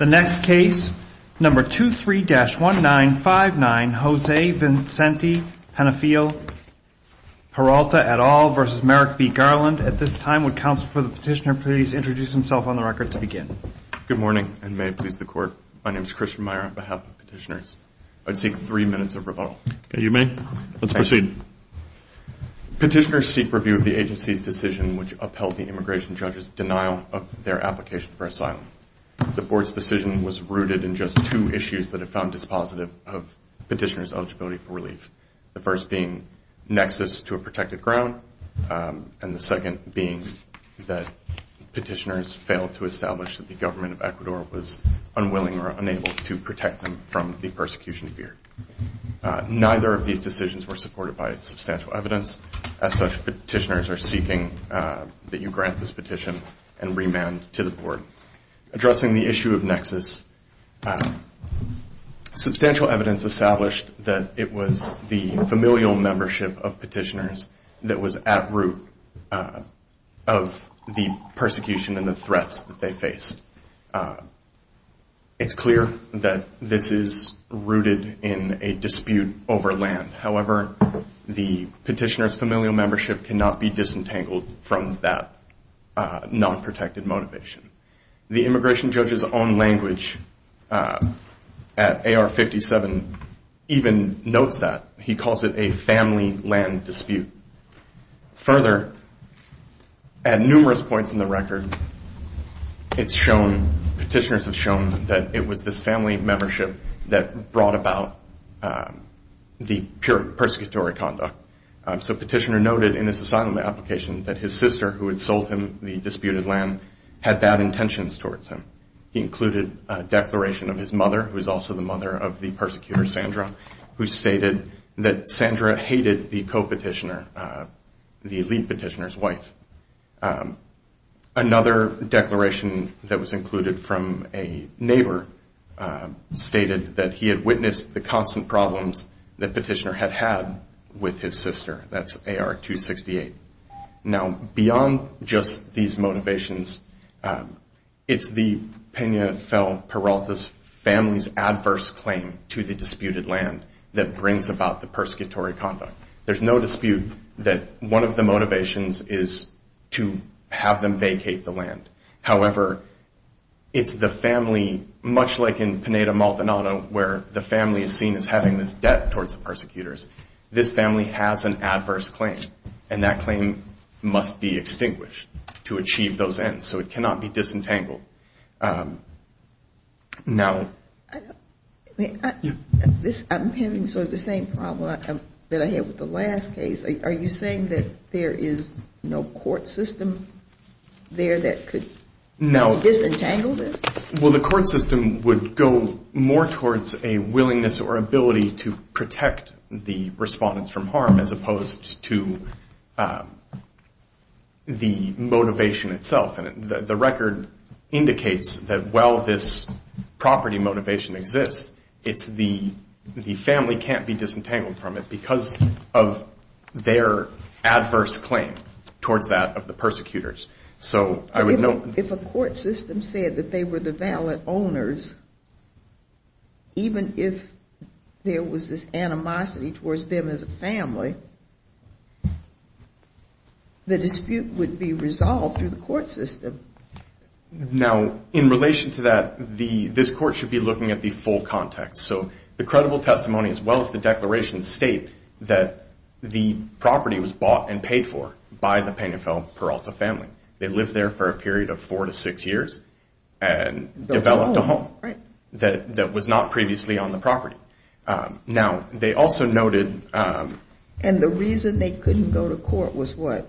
2-3-1959 Jose Vincente Penafiel-Peralta v. Merrick B. Garland 3 minutes of rebuttal Petitioners seek review of the agency's decision which upheld the immigration judge's denial of their application for asylum. The Board's decision was rooted in just two issues that it found dispositive of petitioners' eligibility for relief, the first being nexus to a protected ground and the second being that petitioners failed to establish that the government of Ecuador was unwilling or unable to protect them from the persecution fear. Neither of these decisions were supported by substantial evidence. As such, petitioners are seeking that you grant this petition and remand to the Board. Addressing the issue of nexus, substantial evidence established that it was the familial membership of petitioners that was at root of the persecution and the threats that they faced. It's clear that this is rooted in a dispute over land. However, the petitioner's familial membership cannot be disentangled from that non-protected motivation. The immigration judge's own language at AR-57 even notes that. He calls it a family land dispute. Further, at numerous points in the record, it's shown, petitioners have shown, that it was this family membership that brought about the pure persecutory conduct. So a petitioner noted in his asylum application that his sister, who had sold him the disputed land, had bad intentions towards him. He included a declaration of his mother, who is also the mother of the persecutor, Sandra, who stated that Sandra hated the co-petitioner, the elite petitioner's wife. Another declaration that was included from a neighbor stated that he had witnessed the constant problems that the petitioner had had with his sister. That's AR-268. Now, beyond just these motivations, it's the Pena-Peralta family's adverse claim to the disputed land that brings about the persecutory conduct. There's no dispute that one of the motivations is to have them vacate the land. However, it's the family, much like in Peneda-Maldonado, where the family is seen as having this debt towards the persecutors. This family has an adverse claim, and that claim must be extinguished to achieve those ends. So it cannot be disentangled. Now the ---- I'm having sort of the same problem that I had with the last case. Are you saying that there is no court system there that could disentangle this? Well, the court system would go more towards a willingness or ability to protect the respondents from harm as opposed to the motivation itself. And the record indicates that while this property motivation exists, it's the family can't be disentangled from it because of their adverse claim towards that of the persecutors. So I would note ---- If a court system said that they were the valid owners, even if there was this animosity towards them as a family, the dispute would be resolved through the court system. Now in relation to that, this court should be looking at the full context. So the credible testimony as well as the declaration state that the property was bought and paid for by the Penifel-Peralta family. They lived there for a period of four to six years and developed a home that was not previously on the property. Now they also noted ---- And the reason they couldn't go to court was what?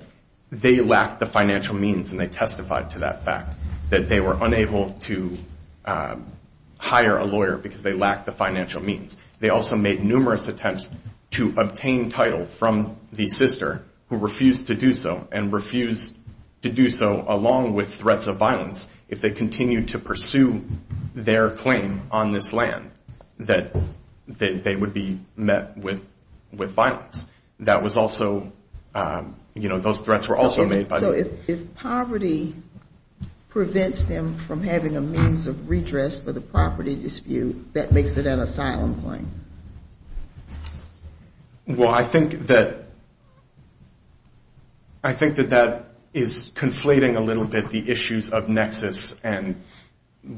They lacked the financial means, and they testified to that fact, that they were unable to hire a lawyer because they lacked the financial means. They also made numerous attempts to obtain title from the sister who refused to do so, and refused to do so along with threats of violence if they continued to pursue their claim on this land, that they would be met with violence. That was also, you know, those threats were also made by the ---- Well, I think that that is conflating a little bit the issues of nexus and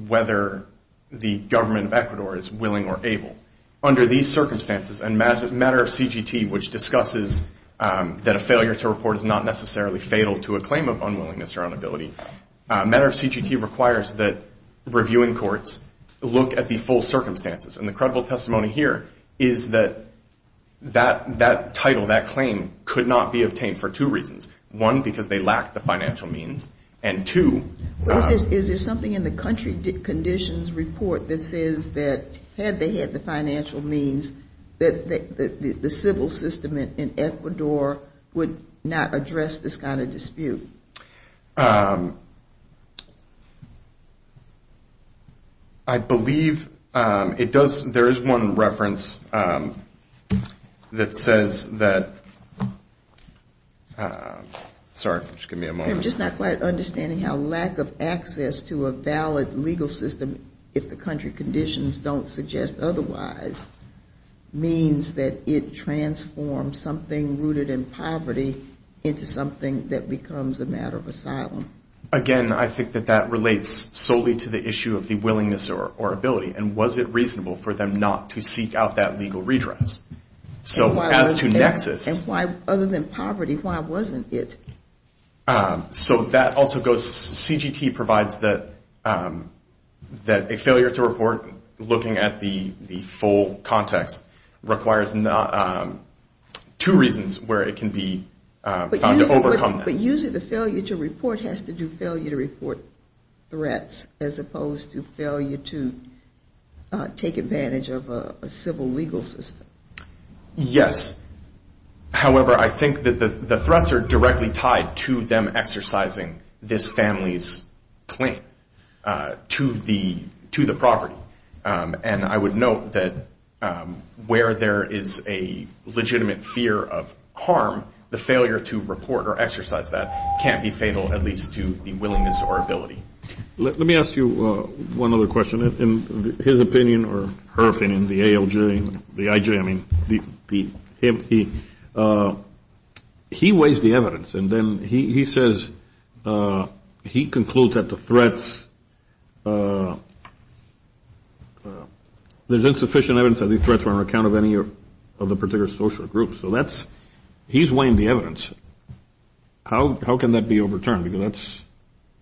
whether the government of Ecuador is willing or able. Under these circumstances, and matter of CGT, which discusses that a failure to report is not necessarily fatal to a claim of unwillingness or unability, matter of CGT requires that reviewing courts look at the full circumstances. And the credible testimony here is that that title, that claim, could not be obtained for two reasons. One, because they lacked the financial means, and two ---- Is there something in the country conditions report that says that had they had the financial means, that the civil system in Ecuador would not address this kind of dispute? I believe it does, there is one reference that says that, sorry, just give me a moment. I'm just not quite understanding how lack of access to a valid legal system, if the country conditions don't suggest otherwise, means that it transforms something rooted in poverty into something that becomes a matter of asylum. Again, I think that that relates solely to the issue of the willingness or ability, and was it reasonable for them not to seek out that legal redress. So as to nexus ---- And why, other than poverty, why wasn't it? So that also goes, CGT provides that a failure to report, looking at the full context, requires two reasons where it can be found to overcome that. But using the failure to report has to do failure to report threats, as opposed to failure to take advantage of a civil legal system. Yes, however, I think that the threats are directly tied to them exercising this family's claim to the property. And I would note that where there is a legitimate fear of harm, the failure to report or exercise that can't be fatal, at least to the willingness or ability. Let me ask you one other question. In his opinion, or her opinion, the ALJ, the IJ, I mean, he weighs the evidence and then he says he concludes that the threats, there's insufficient evidence that these threats were on account of any of the particular social groups. So that's, he's weighing the evidence. How can that be overturned?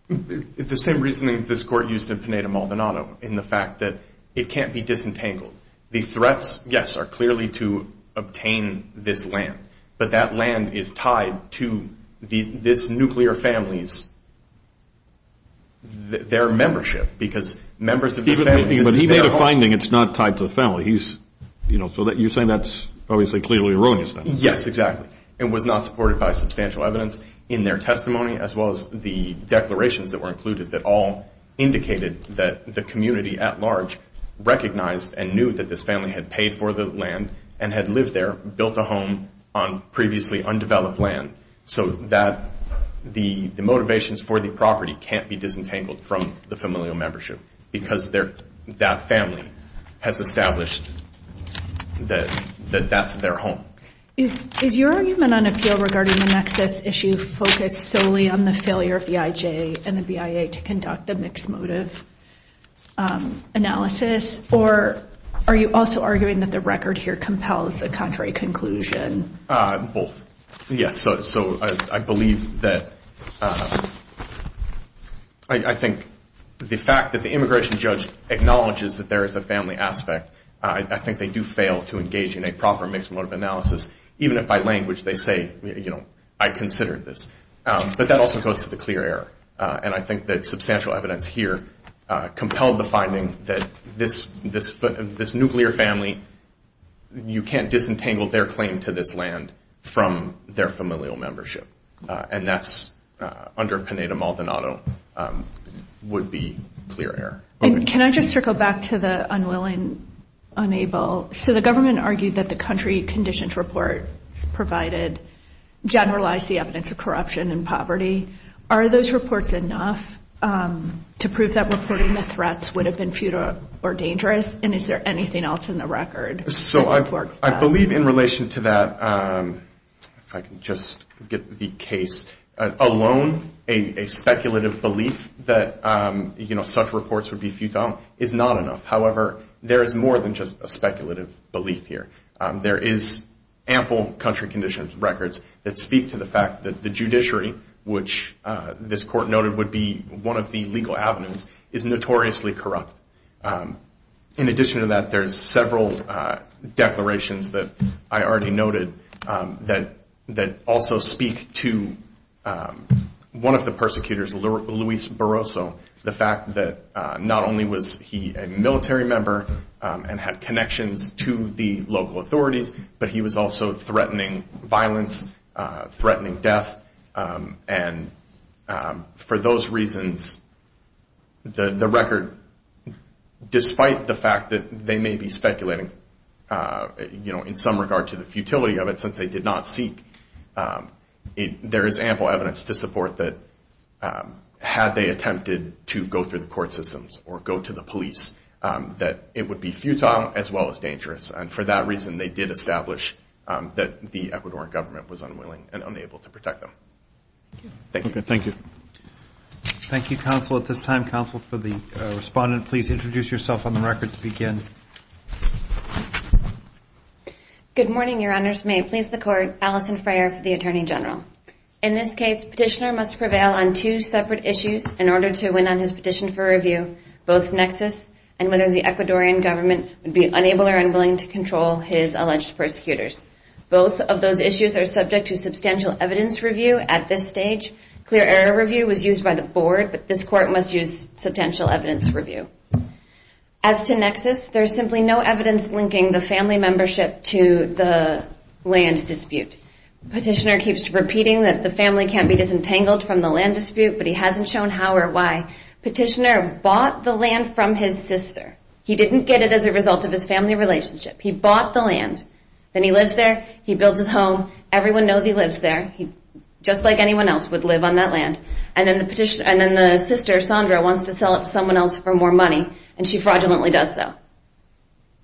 The same reasoning that this Court used in Pineda-Maldonado in the fact that it can't be disentangled. The threats, yes, are clearly to obtain this land. But that land is tied to this nuclear family's, their membership, because members of this family. But he made a finding it's not tied to the family. So you're saying that's obviously clearly erroneous. Yes, exactly. It was not supported by substantial evidence in their testimony as well as the declarations that were included that all indicated that the community at large recognized and knew that this family had paid for the land and had lived there, built a home on previously undeveloped land. So that the motivations for the property can't be disentangled from the familial membership because that family has established that that's their home. Is your argument on appeal regarding the nexus issue focused solely on the failure of the IJ and the BIA to conduct the mixed motive analysis? Or are you also arguing that the record here compels a contrary conclusion? Both. Yes. So I believe that, I think the fact that the immigration judge acknowledges that there is a family aspect, I think they do fail to engage in a proper mixed motive analysis. Even if by language they say, you know, I considered this. But that also goes to the clear error. And I think that substantial evidence here compelled the finding that this nuclear family, you can't disentangle their claim to this land from their familial membership. And that's under Peneda-Maldonado would be clear error. And can I just circle back to the unwilling, unable. So the government argued that the country-conditioned report provided generalized evidence of corruption and poverty. Are those reports enough to prove that reporting the threats would have been futile or dangerous? And is there anything else in the record that supports that? So I believe in relation to that, if I can just get the case alone, a speculative belief that, you know, such reports would be futile is not enough. However, there is more than just a speculative belief here. There is ample country-conditioned records that speak to the fact that the judiciary, which this court noted would be one of the legal avenues, is notoriously corrupt. In addition to that, there's several declarations that I already noted that also speak to one of the persecutors, Luis Barroso, the fact that not only was he a military member and had connections to the local authorities, but he was also threatening violence, threatening death. And for those reasons, the record, despite the fact that they may be speculating, you know, in some regard to the futility of it since they did not seek, there is ample evidence to support that had they attempted to go through the court systems or go to the police, that it would be futile as well as dangerous. And for that reason, they did establish that the Ecuadorian government was unwilling and unable to protect them. Thank you. Thank you, counsel, at this time. Counsel, for the respondent, please introduce yourself on the record to begin. Good morning, Your Honors. May it please the Court. Allison Freyer for the Attorney General. In this case, petitioner must prevail on two separate issues in order to win on his petition for review, both nexus and whether the Ecuadorian government would be unable or unwilling to control his alleged persecutors. Both of those issues are subject to substantial evidence review at this stage. Clear error review was used by the board, but this Court must use substantial evidence review. As to nexus, there is simply no evidence linking the family membership to the land dispute. Petitioner keeps repeating that the family can't be disentangled from the land dispute, but he hasn't shown how or why. Petitioner bought the land from his sister. He didn't get it as a result of his family relationship. He bought the land. Then he lives there. He builds his home. Everyone knows he lives there, just like anyone else would live on that land. And then the sister, Sandra, wants to sell it to someone else for more money, and she fraudulently does so.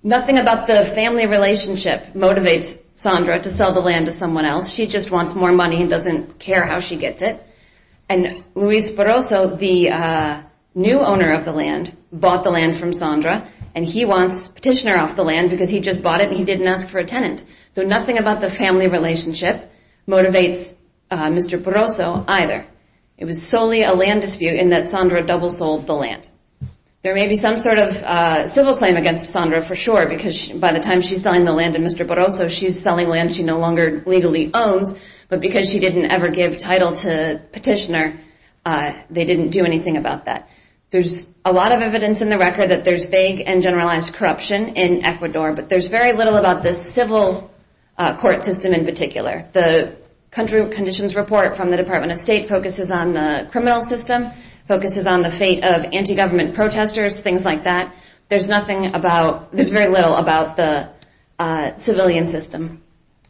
Nothing about the family relationship motivates Sandra to sell the land to someone else. She just wants more money and doesn't care how she gets it. And Luis Barroso, the new owner of the land, bought the land from Sandra, and he wants Petitioner off the land because he just bought it and he didn't ask for a tenant. So nothing about the family relationship motivates Mr. Barroso either. It was solely a land dispute in that Sandra double sold the land. There may be some sort of civil claim against Sandra for sure, because by the time she's selling the land to Mr. Barroso, she's selling land she no longer legally owns, but because she didn't ever give title to Petitioner, they didn't do anything about that. There's a lot of evidence in the record that there's vague and generalized corruption in Ecuador, but there's very little about the civil court system in particular. The country conditions report from the Department of State focuses on the criminal system, focuses on the fate of anti-government protesters, things like that. There's very little about the civilian system,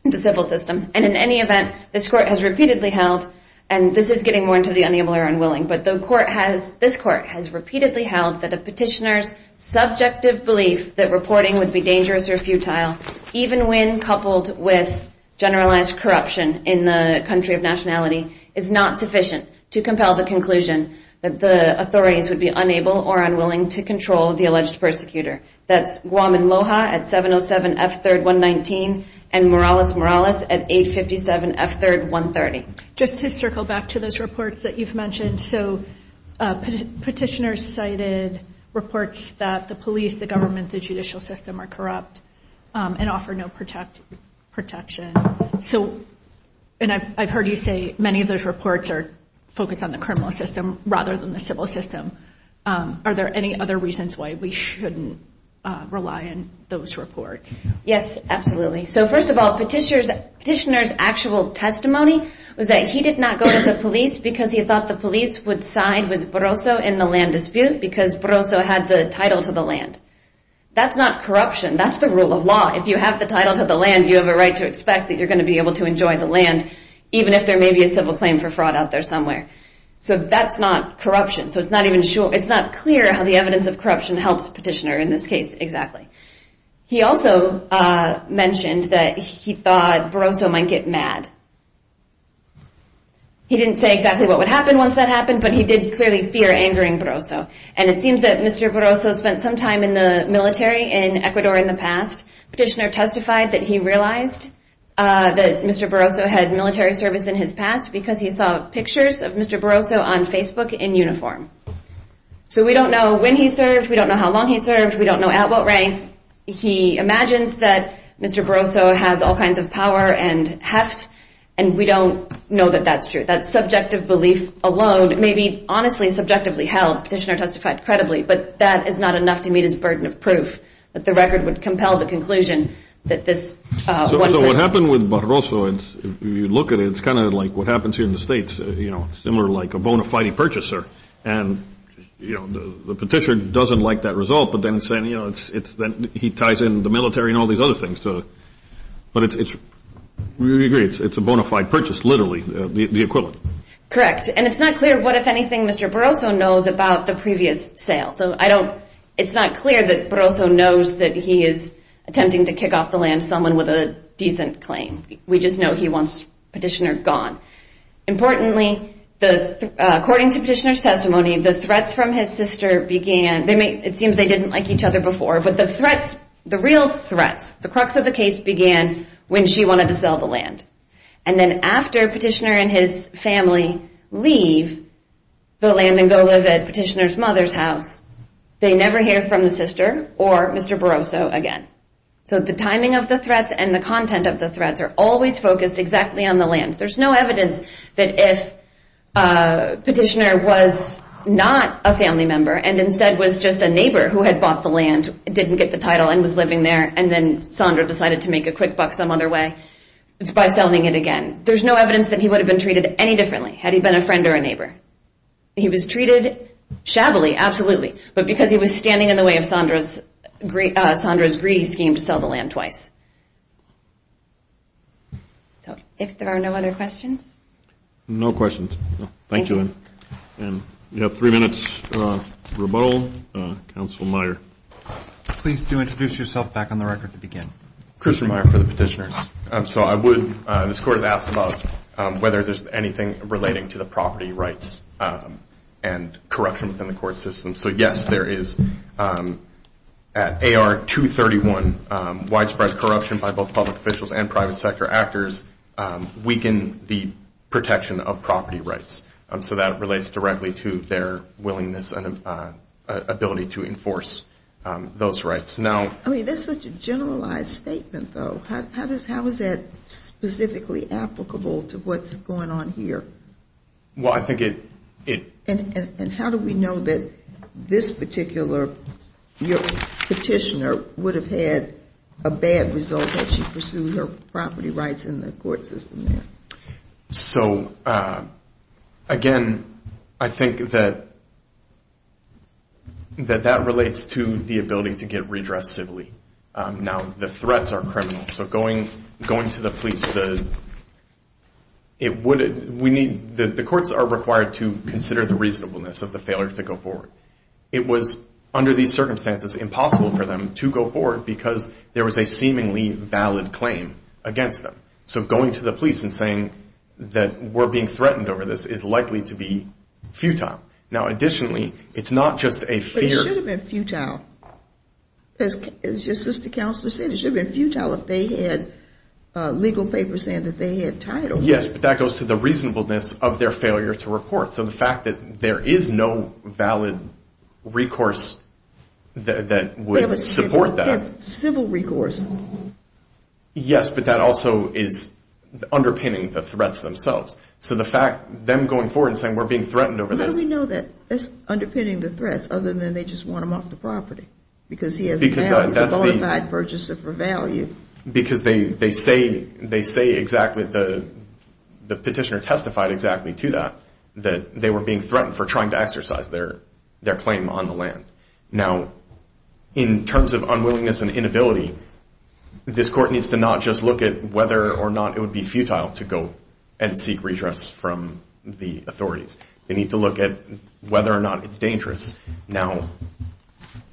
the civil system. And in any event, this court has repeatedly held, and this is getting more into the unable or unwilling, but this court has repeatedly held that a petitioner's subjective belief that reporting would be dangerous or futile, even when coupled with generalized corruption in the country of nationality, is not sufficient to compel the conclusion that the authorities would be unable or unwilling to control the alleged persecutor. That's Guaman Loja at 707 F3rd 119 and Morales Morales at 857 F3rd 130. Just to circle back to those reports that you've mentioned, so Petitioner cited reports that the police, the government, the judicial system are corrupt and offer no protection. So, and I've heard you say many of those reports are focused on the criminal system rather than the civil system. Are there any other reasons why we shouldn't rely on those reports? Yes, absolutely. So first of all, Petitioner's actual testimony was that he did not go to the police because he thought the police would side with Barroso in the land dispute because Barroso had the title to the land. That's not corruption. That's the rule of law. If you have the title to the land, you have a right to expect that you're going to be able to enjoy the land, even if there may be a civil claim for fraud out there somewhere. So that's not corruption. So it's not even sure, it's not clear how the evidence of corruption helps Petitioner in this case exactly. He also mentioned that he thought Barroso might get mad. He didn't say exactly what would happen once that happened, but he did clearly fear angering Barroso. And it seems that Mr. Barroso spent some time in the military in Ecuador in the past. Petitioner testified that he realized that Mr. Barroso had military service in his past because he saw pictures of Mr. Barroso on Facebook in uniform. So we don't know when he served. We don't know how long he served. We don't know at what rank. He imagines that Mr. Barroso has all kinds of power and heft, and we don't know that that's true. That subjective belief alone may be honestly subjectively held. Petitioner testified credibly, but that is not enough to meet his burden of proof, that the record would compel the conclusion that this one person. What happened with Barroso, if you look at it, it's kind of like what happens here in the States. It's similar to like a bona fide purchaser, and the petitioner doesn't like that result, but then he ties in the military and all these other things. But we agree, it's a bona fide purchase, literally, the equivalent. Correct. And it's not clear what, if anything, Mr. Barroso knows about the previous sale. So I don't, it's not clear that Barroso knows that he is attempting to kick off the land someone with a decent claim. We just know he wants Petitioner gone. Importantly, according to Petitioner's testimony, the threats from his sister began, it seems they didn't like each other before, but the threats, the real threats, the crux of the case began when she wanted to sell the land. And then after Petitioner and his family leave the land and go live at Petitioner's mother's house, they never hear from the sister or Mr. Barroso again. So the timing of the threats and the content of the threats are always focused exactly on the land. There's no evidence that if Petitioner was not a family member and instead was just a neighbor who had bought the land, didn't get the title and was living there, and then Sondra decided to make a quick buck some other way, it's by selling it again. There's no evidence that he would have been treated any differently had he been a friend or a neighbor. He was treated shabbily, absolutely, but because he was standing in the way of Sondra's greedy scheme to sell the land twice. So if there are no other questions. No questions. Thank you. And we have three minutes for rebuttal. Counsel Meyer. Please do introduce yourself back on the record to begin. Christian Meyer for the Petitioner's. So I would, this court has asked about whether there's anything relating to the property rights and corruption within the court system. So, yes, there is. At AR 231, widespread corruption by both public officials and private sector actors weaken the protection of property rights. So that relates directly to their willingness and ability to enforce those rights. I mean, that's such a generalized statement, though. How is that specifically applicable to what's going on here? Well, I think it. And how do we know that this particular petitioner would have had a bad result had she pursued her property rights in the court system? So, again, I think that that relates to the ability to get redressed civilly. Now, the threats are criminal. So going to the police, the courts are required to consider the reasonableness of the failure to go forward. It was, under these circumstances, impossible for them to go forward because there was a seemingly valid claim against them. So going to the police and saying that we're being threatened over this is likely to be futile. Now, additionally, it's not just a fear. But it should have been futile. As your sister counselor said, it should have been futile if they had legal papers saying that they had title. Yes, but that goes to the reasonableness of their failure to report. So the fact that there is no valid recourse that would support that. They have civil recourse. Yes, but that also is underpinning the threats themselves. So the fact them going forward and saying we're being threatened over this. How do we know that that's underpinning the threats other than they just want them off the property? Because he has a qualified purchaser for value. Because they say exactly, the petitioner testified exactly to that, that they were being threatened for trying to exercise their claim on the land. Now, in terms of unwillingness and inability, this court needs to not just look at whether or not it would be futile to go and seek redress from the authorities. They need to look at whether or not it's dangerous. Now,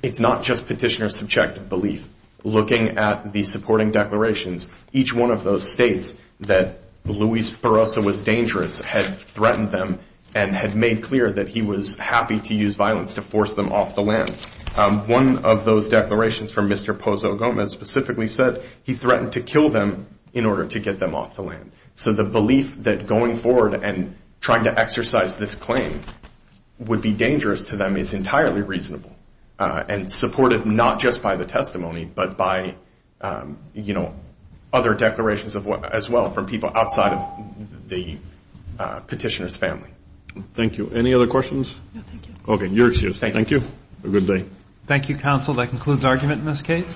it's not just petitioner's subjective belief. Looking at the supporting declarations, each one of those states that Luis Barroso was dangerous had threatened them and had made clear that he was happy to use violence to force them off the land. One of those declarations from Mr. Pozo Gomez specifically said he threatened to kill them in order to get them off the land. So the belief that going forward and trying to exercise this claim would be dangerous to them is entirely reasonable. And supported not just by the testimony, but by other declarations as well from people outside of the petitioner's family. Thank you. Any other questions? No, thank you. Okay, you're excused. Thank you. Thank you. Have a good day. Thank you, counsel. That concludes argument in this case.